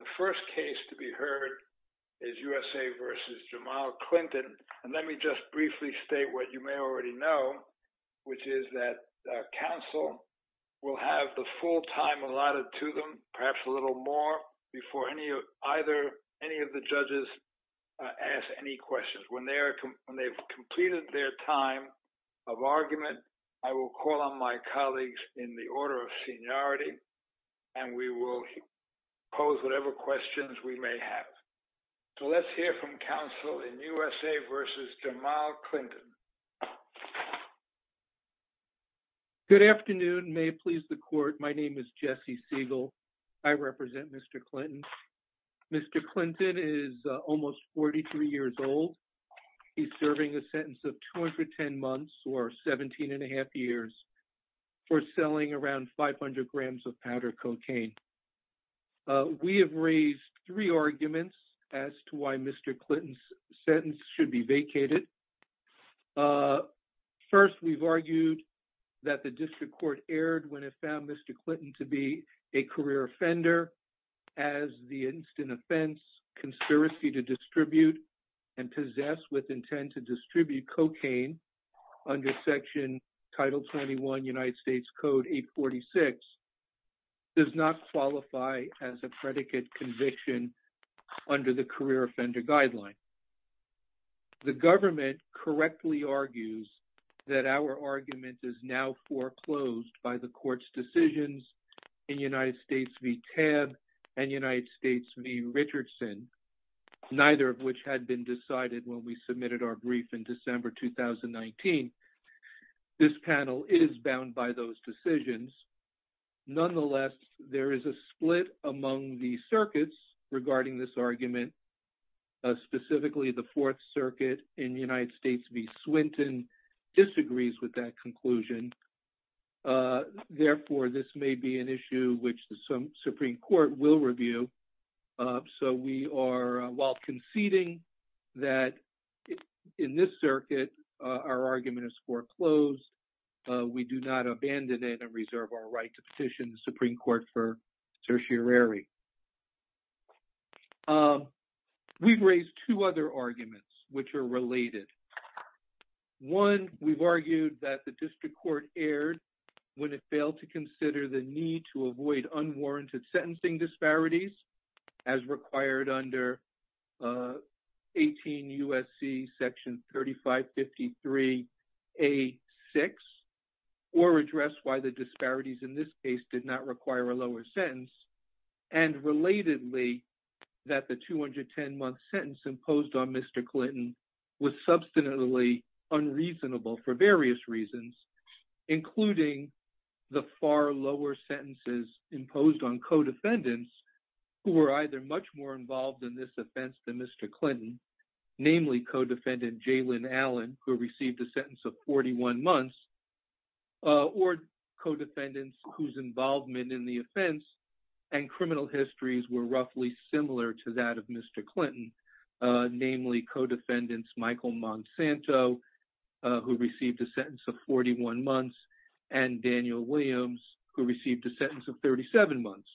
The first case to be heard is USA v. Jamal Clinton, and let me just briefly state what you may already know, which is that counsel will have the full time allotted to them, perhaps a little more, before any of the judges ask any questions. When they've completed their time of argument, I will call on my colleagues in the order of seniority, and we will pose whatever questions we may have. So let's hear from counsel in USA v. Jamal Clinton. Good afternoon. May it please the court. My name is Jesse Siegel. I represent Mr. Clinton. Mr. Clinton is almost 43 years old. He's serving a sentence of 210 months or 17 and a half years for selling around 500 grams of powder cocaine. We have raised three arguments as to why Mr. Clinton's sentence should be vacated. First, we've argued that the district court erred when it found Mr. Clinton to be a career offender as the instant offense conspiracy to distribute and possess with intent to distribute cocaine under Section Title 21 United States Code 846 does not qualify as a predicate conviction under the career offender guideline. The government correctly argues that our argument is now foreclosed by the court's decisions in United States v. Tab and United States v. Richardson, neither of which had been decided when we submitted our brief in December 2019. This panel is bound by those decisions. Nonetheless, there is a split among the circuits regarding this argument. Specifically, the Fourth Circuit in United States v. Swinton disagrees with that conclusion. Therefore, this may be an issue which the Supreme Court will review. So we are while conceding that in this circuit, our argument is foreclosed. We do not abandon it and reserve our right to petition the Supreme Court for tertiary. Um, we've raised two other arguments which are related. One, we've argued that the district court erred when it failed to consider the need to avoid unwarranted sentencing disparities as required under 18 U.S.C. Section 3553 A-6 or address why the disparities in this case did not require a lower sentence. And relatedly, that the 210-month sentence imposed on Mr. Clinton was substantively unreasonable for various reasons, including the far lower sentences imposed on co-defendants who were either much more involved in this offense than Mr. Clinton, namely co-defendant Jalyn Allen, who received a sentence of 41 months, or co-defendants whose involvement in the offense and criminal histories were roughly similar to that of Mr. Clinton, namely co-defendants Michael Monsanto, who received a sentence of 41 months, and Daniel Williams, who received a sentence of 37 months.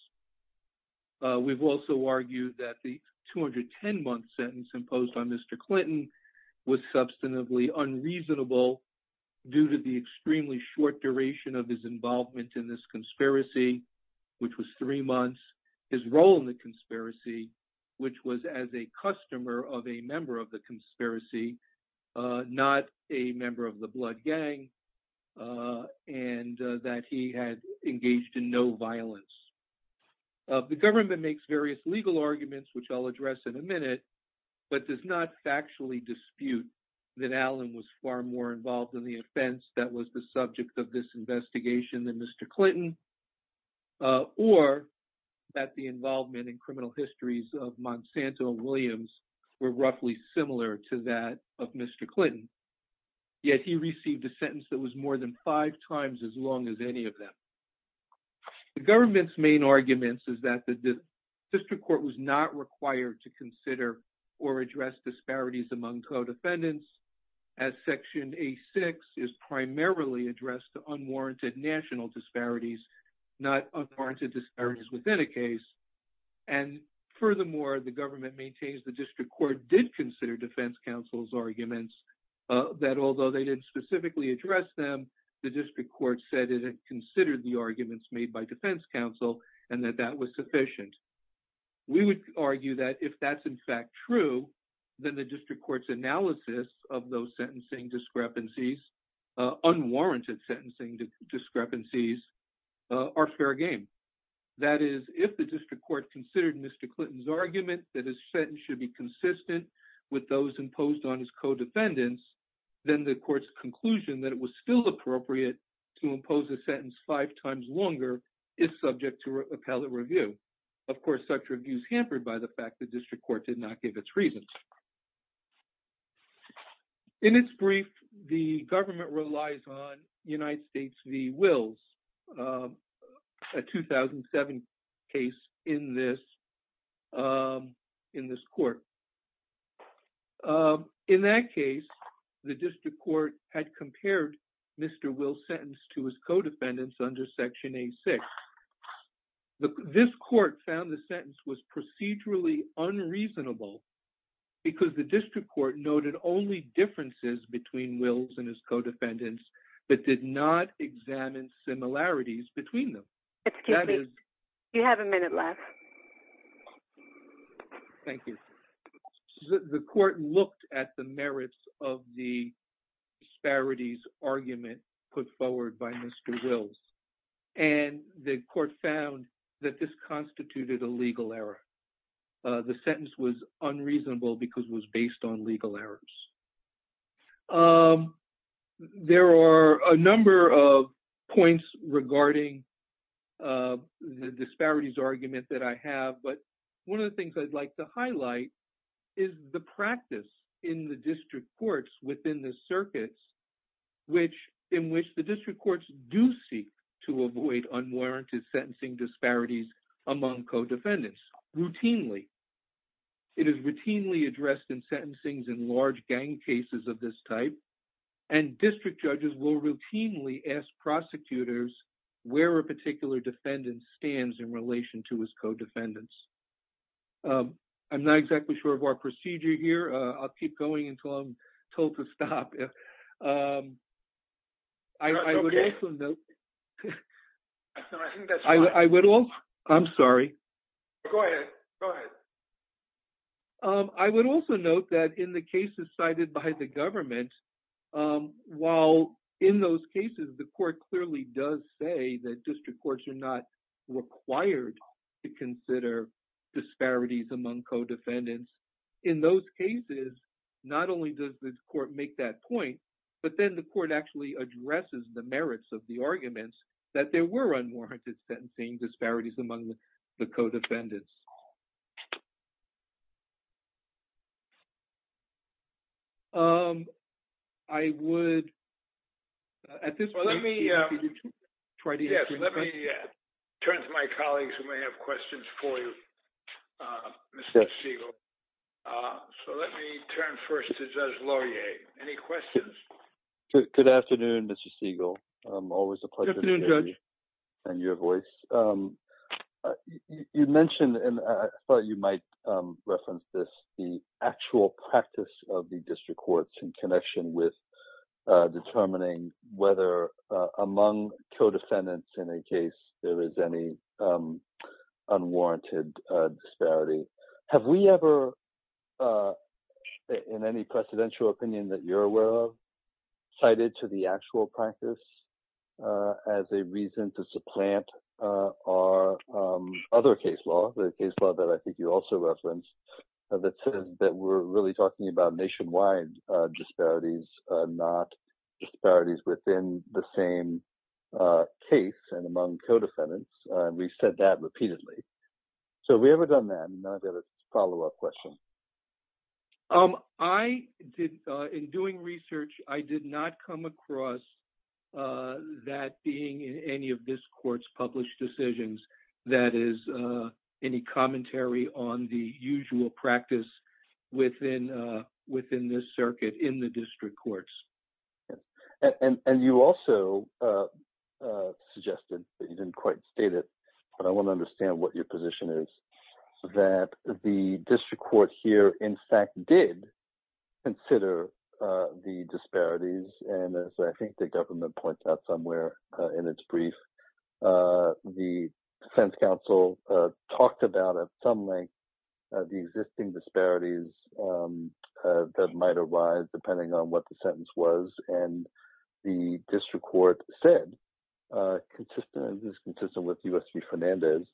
We've also argued that the 210-month sentence imposed on Mr. Clinton was substantively unreasonable due to the extremely short duration of his involvement in this conspiracy, which was three months, his role in the conspiracy, which was as a customer of a member of the conspiracy, not a member of the blood gang, and that he had engaged in no violence. The government makes various legal arguments, which I'll address in a minute, but does not factually dispute that Allen was far more involved in the offense that was the subject of this investigation than Mr. Clinton, or that the involvement in criminal histories of Monsanto and Williams were roughly similar to that of Mr. Clinton, yet he received a sentence that was more than five times as long as any of them. The government's main arguments is that the district court was not required to consider or address disparities among co-defendants, as Section A6 is primarily addressed to unwarranted national disparities, not unwarranted disparities within a case, and furthermore, the government maintains the district court did consider defense counsel's arguments that although they didn't address them, the district court said it had considered the arguments made by defense counsel and that that was sufficient. We would argue that if that's in fact true, then the district court's analysis of those sentencing discrepancies, unwarranted sentencing discrepancies, are fair game. That is, if the district court considered Mr. Clinton's argument that his sentence should be consistent with those imposed on his co-defendants, then the court's conclusion that it was still appropriate to impose a sentence five times longer is subject to appellate review. Of course, such reviews hampered by the fact the district court did not give its reasons. In its brief, the government relies on United States v. Wills, a 2007 case in this court. In that case, the district court had compared Mr. Wills' sentence to his co-defendants under Section A6. This court found the sentence was procedurally unreasonable because the district court noted only differences between Wills and his co-defendants but did not examine similarities between them. Excuse me, you have a minute left. Thank you. The court looked at the merits of the disparities argument put forward by Mr. Wills and the court found that this constituted a legal error. The sentence was unreasonable because it was based on legal errors. There are a number of points regarding the disparities argument that I have, but one of the things I'd like to highlight is the practice in the district courts within the circuits in which the district courts do seek to avoid unwarranted sentencing disparities among co-defendants routinely. It is routinely addressed in sentencings in large gang cases of this type and district judges will routinely ask prosecutors where a particular defendant stands in relation to his co-defendants. I'm not exactly sure of our procedure here. I'll I'm sorry. Go ahead. Go ahead. I would also note that in the cases cited by the government, while in those cases, the court clearly does say that district courts are not required to consider disparities among co-defendants. In those cases, not only does the court make that point, but then the court actually addresses the merits of the arguments that there were unwarranted sentencing disparities among the co-defendants. I would at this point, let me turn to my colleagues who may have questions for you, Mr. Siegel. So let me turn first to Judge Laurier. Any questions? Good afternoon, Mr. Siegel. Always a pleasure to hear you and your voice. You mentioned, and I thought you might reference this, the actual practice of the district courts in connection with determining whether among co-defendants in a case there is any unwarranted disparity. Have we ever, in any presidential opinion that you're aware of, cited to the actual practice as a reason to supplant our other case law, the case law that I think you also referenced, that says that we're really talking about nationwide disparities, not disparities within the same case and among co-defendants? We've said that repeatedly. So have we ever done that? And then I've got a follow-up question. I did, in doing research, I did not come across that being in any of this court's published decisions that is any commentary on the usual practice within this circuit in the district courts. And you also suggested that you didn't quite state it, but I want to understand what your position is, that the district court here, in fact, did consider the disparities. And as I think the government points out somewhere in its brief, the defense counsel talked about at some length the existing disparities that might arise depending on what the sentence was. And the district court said, consistent with U.S. v. Fernandez,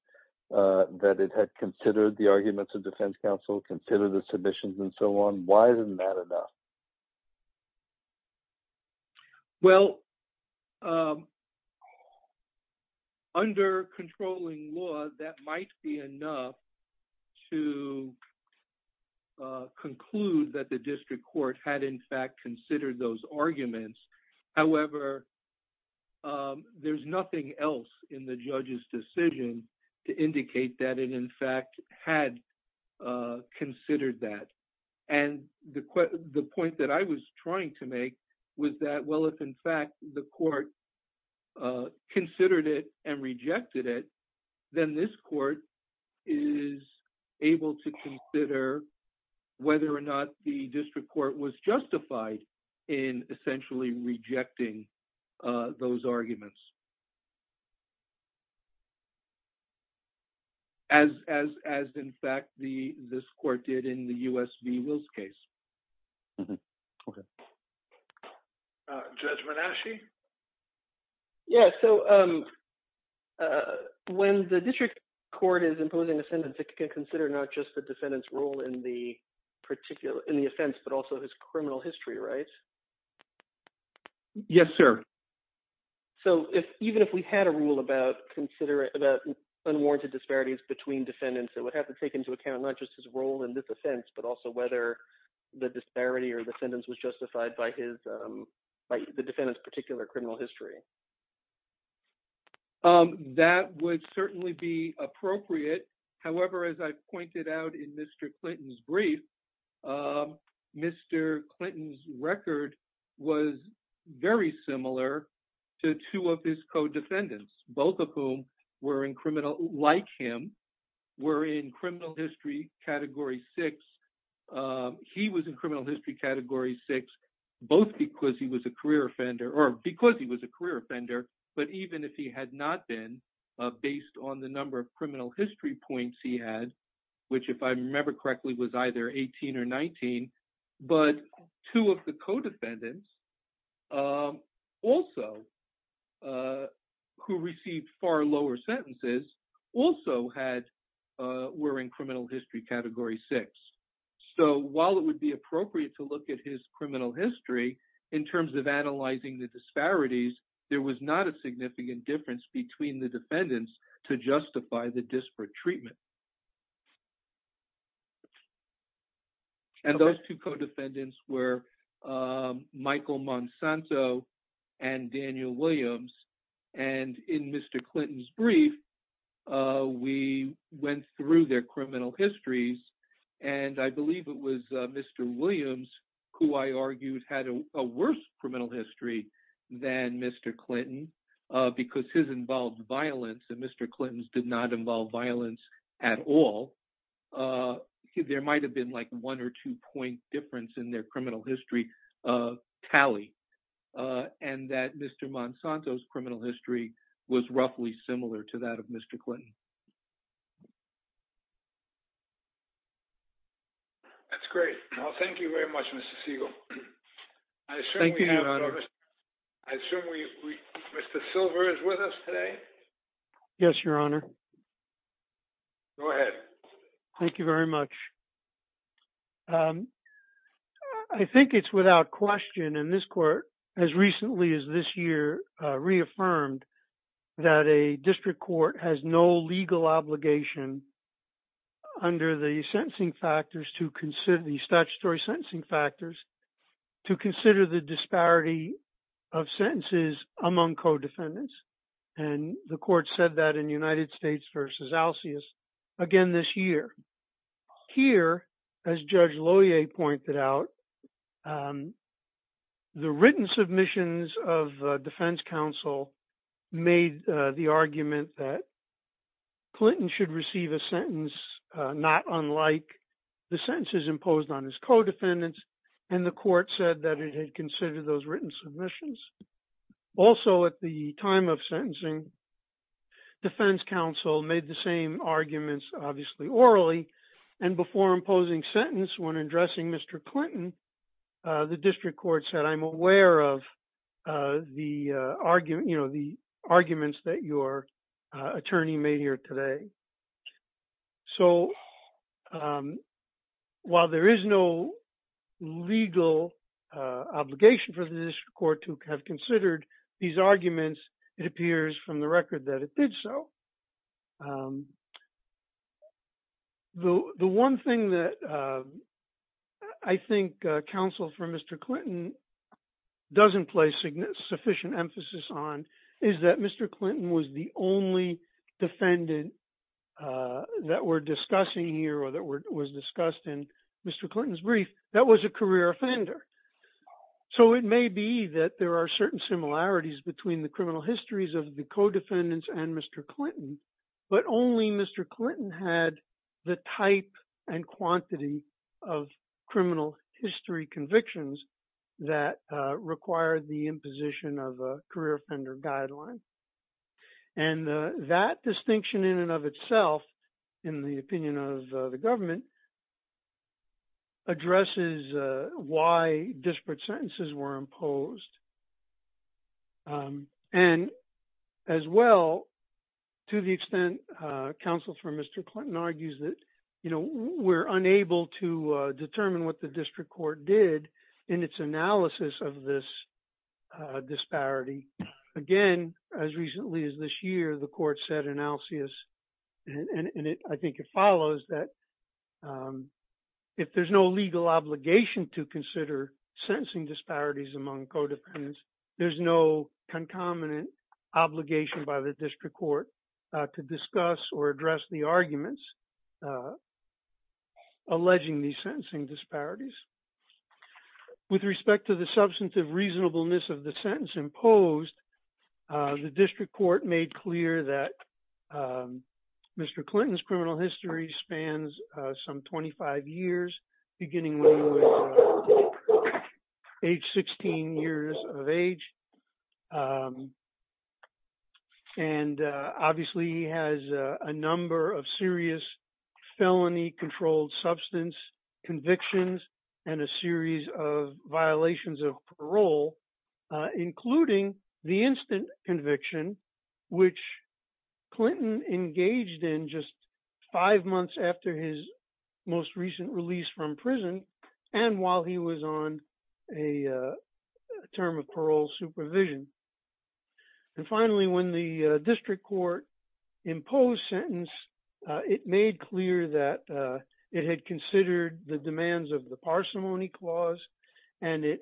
that it had considered the arguments of defense counsel, considered the submissions and so on. Why isn't that enough? Well, under controlling law, that might be enough to conclude that the district court had, in fact, considered those arguments. However, there's nothing else in the judge's decision to indicate that it, in fact, had considered that. And the point that I was trying to make was that, well, if, in fact, the court considered it and rejected it, then this court is able to consider whether or not the district court was justified in essentially rejecting those arguments, as, in fact, this court did in the U.S. v. Wills case. Okay. Judge Manasci? Yeah. So when the district court is imposing a sentence, it can consider not just the defendant's role in the offense, but also his criminal history, right? Yes, sir. So even if we had a rule about unwarranted disparities between defendants, it would have to take into account not just his role in this offense, but also whether the disparity or the sentence was justified by the defendant's particular criminal history. That would certainly be appropriate. However, as I pointed out in Mr. Clinton's brief, Mr. Clinton's record was very similar to two of his co-defendants, both of whom were in criminal, like him, were in criminal history category six. He was in criminal history category six, both because he was a career offender, or because he was a career offender, but even if he had not been, based on the number of criminal history points he had, which if I remember correctly was either 18 or 19, but two of the co-defendants also who received far lower sentences also had, were in criminal history category six. So while it would be appropriate to look at his criminal history in terms of analyzing the disparities, there was not a significant difference between the defendants to justify the disparate treatment. And those two co-defendants were Michael Monsanto and Daniel Williams. And in Mr. Clinton's brief, we went through their criminal histories and I believe it was Mr. Williams, who I argued had a worse criminal history than Mr. Clinton because his involved violence and Mr. Clinton's did not involve violence at all. There might've been like a one or two point difference in their criminal history tally and that Mr. Monsanto's criminal history was roughly similar to that of Mr. Clinton. That's great. Well, thank you very much, Mr. Siegel. I assume we have Mr. Silver is with us today. Yes, your honor. Go ahead. Thank you very much. I think it's without question in this court, as recently as this year, reaffirmed that a district court has no legal obligation under the sentencing factors to consider the statutory sentencing factors to consider the disparity of sentences among co-defendants. And the court said that in United States versus Alsius, again, this year, here, as Judge Lohier pointed out, the written submissions of defense counsel made the argument that Clinton should receive a sentence, not unlike the sentences imposed on his co-defendants. And the court said that it had considered those written submissions. Also at the time of sentencing, defense counsel made the same arguments, obviously orally and before imposing sentence when addressing Mr. Clinton, the district court said, I'm aware of the argument, you know, the legal obligation for the district court to have considered these arguments. It appears from the record that it did so. The one thing that I think counsel for Mr. Clinton doesn't place sufficient emphasis on is that Mr. Clinton was the only defendant that we're discussing here, was discussed in Mr. Clinton's brief, that was a career offender. So it may be that there are certain similarities between the criminal histories of the co-defendants and Mr. Clinton, but only Mr. Clinton had the type and quantity of criminal history convictions that required the imposition of a career offender guideline. And that distinction in and of itself, in the opinion of the government, addresses why disparate sentences were imposed. And as well, to the extent counsel for Mr. Clinton argues that, you know, we're unable to determine what the district court did in its analysis of this disparity. Again, as recently as this year, the court said in its analysis, and I think it follows, that if there's no legal obligation to consider sentencing disparities among co-defendants, there's no concomitant obligation by the district court to discuss or address the arguments alleging these sentencing disparities. With respect to the substantive reasonableness of the sentence imposed, the district court made clear that Mr. Clinton's criminal history spans some 25 years, beginning with age 16 years of age. And obviously, he has a number of serious felony controlled substance convictions, and a series of violations of parole, including the instant conviction, which Clinton engaged in just five months after his most recent release from prison, and while he was on a term of parole supervision. And finally, when the district court imposed sentence, it made clear that it had considered the demands of the parsimony clause, and it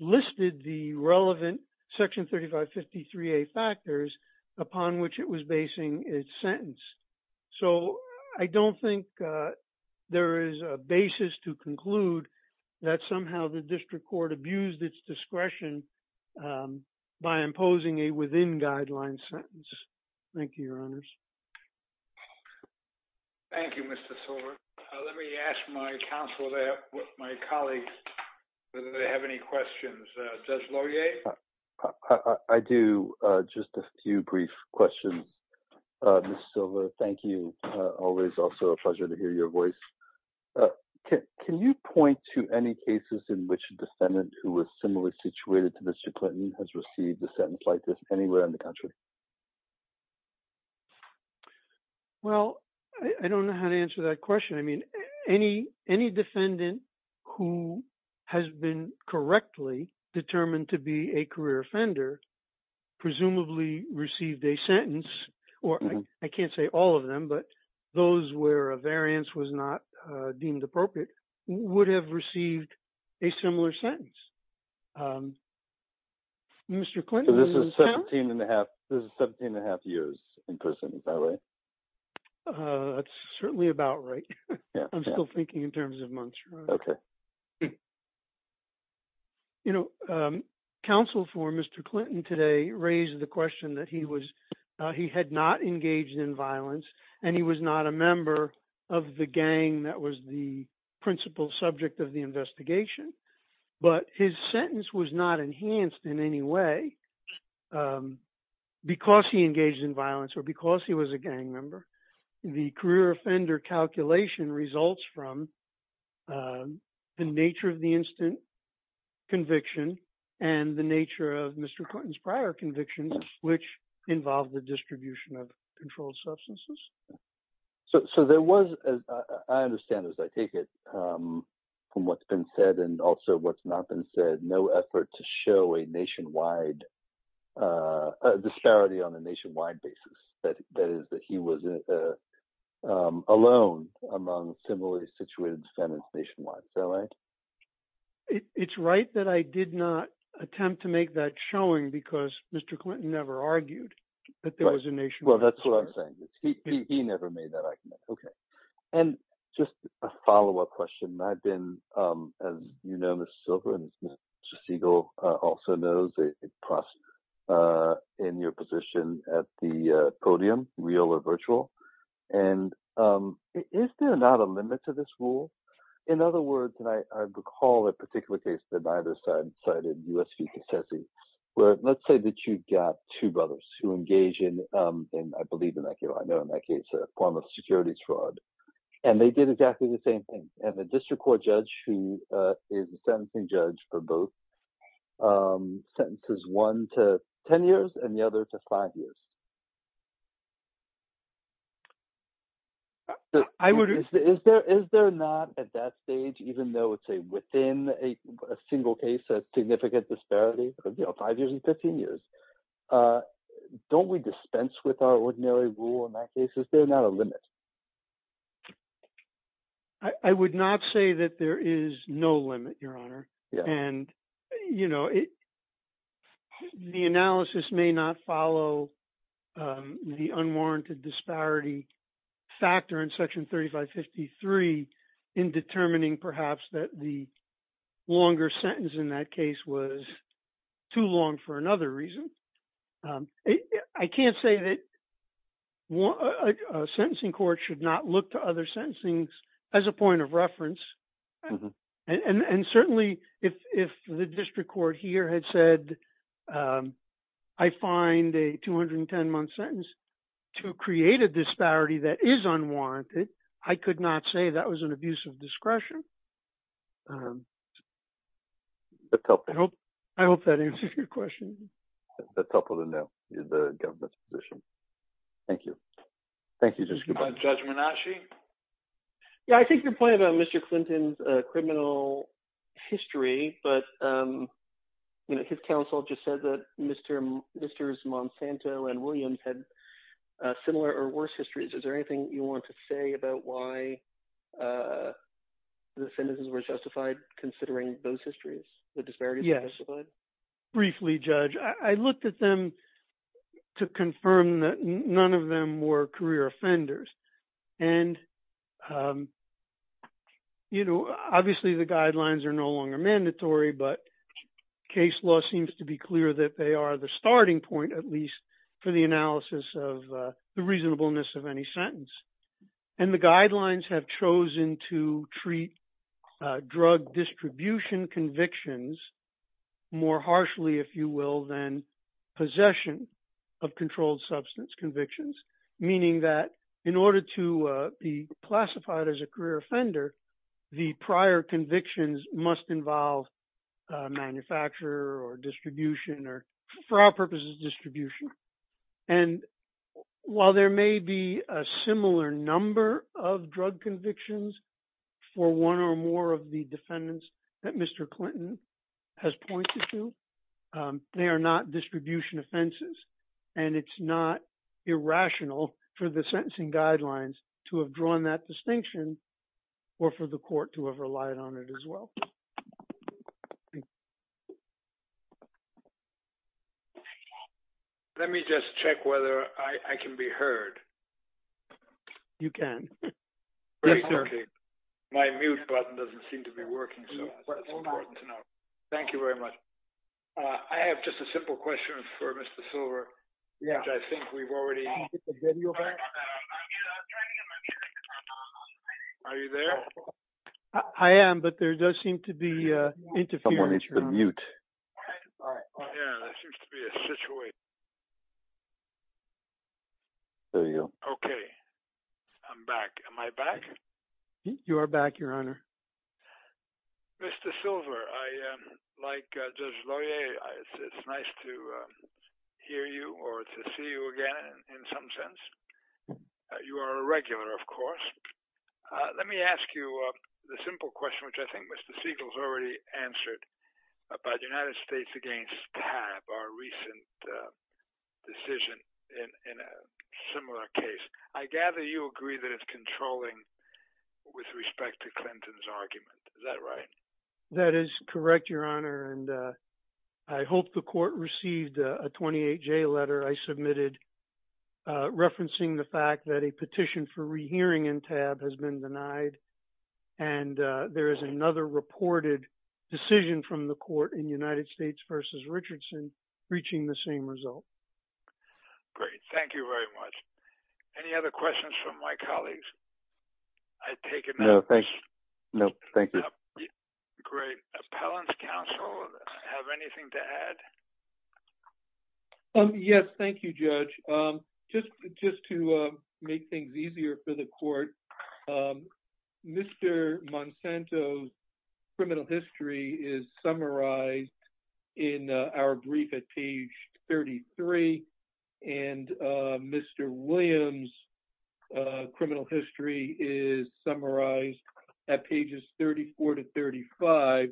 listed the relevant section 3553a factors upon which it was basing its sentence. So, I don't think there is a basis to conclude that somehow the district court abused its discretion by imposing a within-guideline sentence. Thank you, Your Honors. Thank you, Mr. Silver. Let me ask my counsel there, my colleagues, whether they have any questions. Judge Laurier? I do. Just a few brief questions. Ms. Silver, thank you. Always also a pleasure to hear your has received a sentence like this anywhere in the country. Well, I don't know how to answer that question. I mean, any defendant who has been correctly determined to be a career offender, presumably received a sentence, or I can't say all of them, but those where a variance was not deemed appropriate, would have received a similar sentence. Mr. Clinton? This is 17 and a half years in prison, is that right? That's certainly about right. I'm still thinking in terms of months. You know, counsel for Mr. Clinton today raised the question that he had not engaged in violence, and he was not a member of the gang that was the principal subject of the investigation. But his sentence was not enhanced in any way because he engaged in violence or because he was a gang member. The career offender calculation results from the nature of the instant conviction and the nature of Mr. Clinton's prior convictions, which involved the distribution of controlled substances. So there was, I understand as I take it, from what's been said and also what's not been said, no effort to show a nationwide disparity on a nationwide basis. That is that he was alone among similarly situated defendants nationwide, is that right? It's right that I did not attempt to make that showing because Mr. Clinton never argued that there was a nationwide disparity. Well, that's what I'm saying. He never made that argument. Okay. And just a follow-up question. I've been, as you know, Mrs. Silver and Mrs. Siegel also knows, impressed in your position at the podium, real or virtual. And is there not a limit to this rule? In other words, and I recall a particular case that neither side cited, U.S. v. Kisezi, where let's say that you've got two brothers who engage in, and I believe in that case, a form of security fraud. And they did exactly the same thing. And the district court judge who is the sentencing judge for both sentences, one to 10 years and the other to five years. Is there not at that stage, even though it's a within a single case, a significant disparity, five years and 15 years, don't we dispense with our ordinary rule in that case? Is there not a limit? I would not say that there is no limit, Your Honor. And the analysis may not follow the unwarranted disparity factor in Section 3553 in determining perhaps that the too long for another reason. I can't say that a sentencing court should not look to other sentencings as a point of reference. And certainly, if the district court here had said, I find a 210-month sentence to create a disparity that is unwarranted, I could not say that was an abuse of discretion. I hope that answers your question. That's helpful to know the government's position. Thank you. Thank you, Judge Minasci. Yeah, I think your point about Mr. Clinton's criminal history, but his counsel just said that Mr. Monsanto and Williams had similar or worse histories. Is there anything you want to say about why the sentences were justified, considering those histories, the disparities? Briefly, Judge, I looked at them to confirm that none of them were career offenders. And you know, obviously, the guidelines are no longer mandatory. But case law seems to be clear that they are the starting point, at least for the analysis of the reasonableness of any sentence. And the guidelines have chosen to treat drug distribution convictions more harshly, if you will, than possession of controlled substance convictions, meaning that in order to be classified as a career offender, the prior convictions must involve manufacturer or distribution or, for our purposes, distribution. And while there may be a similar number of drug convictions for one or more of the defendants that Mr. Clinton has pointed to, they are not distribution offenses. And it's not irrational for the sentencing guidelines to have drawn that distinction, or for the court to have relied on it as well. Thank you. Let me just check whether I can be heard. You can. My mute button doesn't seem to be working. So that's important to know. Thank you very much. I have just a simple question for Mr. Silver. Yeah, I think we've already got the video back. Are you there? I am, but there does seem to be a interference. Someone needs to mute. Yeah, there seems to be a situation. There you go. Okay, I'm back. Am I back? You are back, Your Honor. Mr. Silver, like Judge Laurier, it's nice to hear you or to see you again in some sense. You are a regular, of course. Let me ask you the simple question, which I think Mr. Siegel's already answered, about the United States against TAB, our recent decision in a similar case. I gather you agree that it's controlling with respect to Clinton's argument. Is that right? That is correct, Your Honor, and I hope the court received a 28-J letter I submitted referencing the fact that a petition for rehearing in TAB has been denied, and there is another reported decision from the court in United States versus Richardson reaching the same result. Great. Thank you very much. Any other questions from my colleagues? I take it no. No, thank you. Great. Appellant's counsel, have anything to add? Yes, thank you, Judge. Just to make things easier for the court, Mr. Monsanto's criminal history is summarized in our brief at page 33, and Mr. Williams' criminal history is summarized at pages 34 to 35,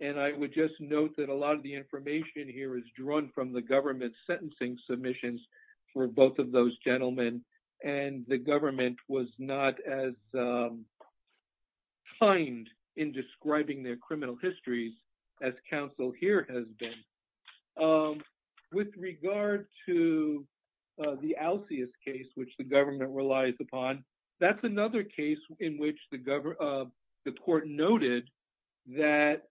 and I would just note that a lot of the information here is drawn from the government sentencing submissions for both of those gentlemen, and the government was not as kind in describing their criminal histories as counsel here has been. With regard to the Alcius case, which the government relies upon, that's another case in which the court noted that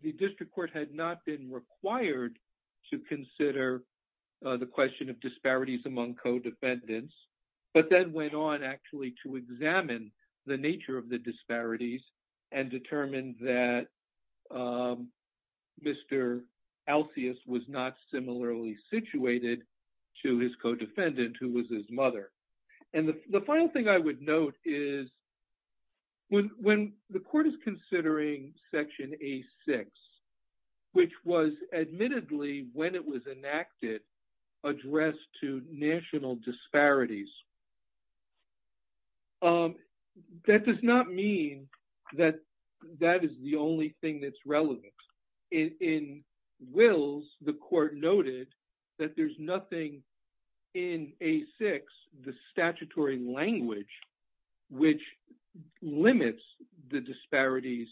the district court had not been required to consider the question of disparities among co-defendants, but then went on actually to examine the nature of the disparities and determined that Mr. Alcius was not similarly situated to his co-defendant, who was his mother. And the final thing I would note is when the court is considering Section A-6, which was admittedly, when it was enacted, addressed to national disparities, that does not mean that that is the only thing that's relevant. In Wills, the court noted that there's nothing in A-6, the statutory language, which limits the disparities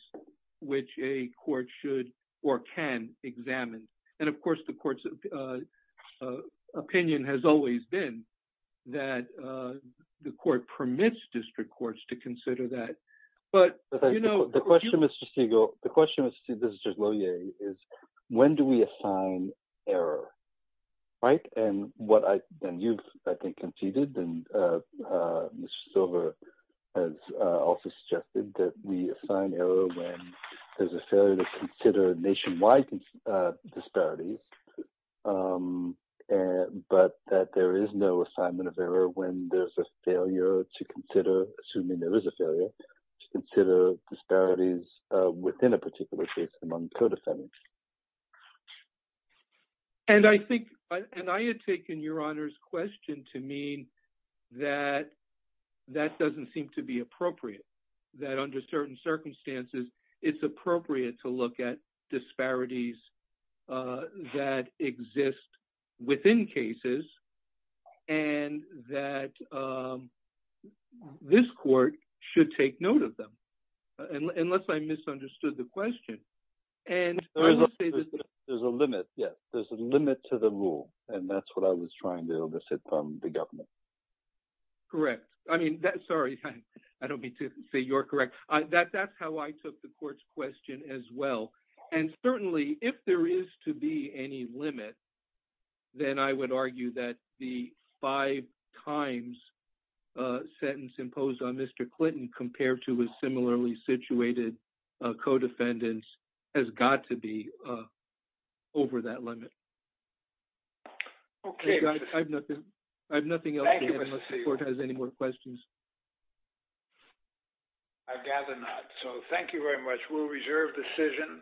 which a court should or can examine. And of course, the court's opinion has always been that the court permits district courts to consider that. But, you know... The question, Mr. Stegall, the question, Mr. Lohier, is when do we assign error, right? And you've, I think, conceded, and Mr. Silver has also suggested that we assign error when there's a failure to consider nationwide disparities, but that there is no assignment of error when there's a failure to consider, assuming there is a failure, to consider disparities within a particular case among co-defendants. And I think, and I had taken Your Honor's question to mean that that doesn't seem to be appropriate, that under certain circumstances, it's appropriate to look at disparities that exist within cases, and that this court should take note of them, unless I misunderstood the question. And... There's a limit, yes. There's a limit to the rule, and that's what I was trying to elicit from the government. Correct. I mean, sorry, I don't mean to say you're correct. That's how I took the court's question as well. And certainly, if there is to be any limit, then I would argue that the five times sentence imposed on Mr. Clinton, compared to his similarly situated co-defendants, has got to be over that limit. Okay. I've nothing else to add, unless the court has any more questions. I gather not. So, thank you very much. We'll reserve decision.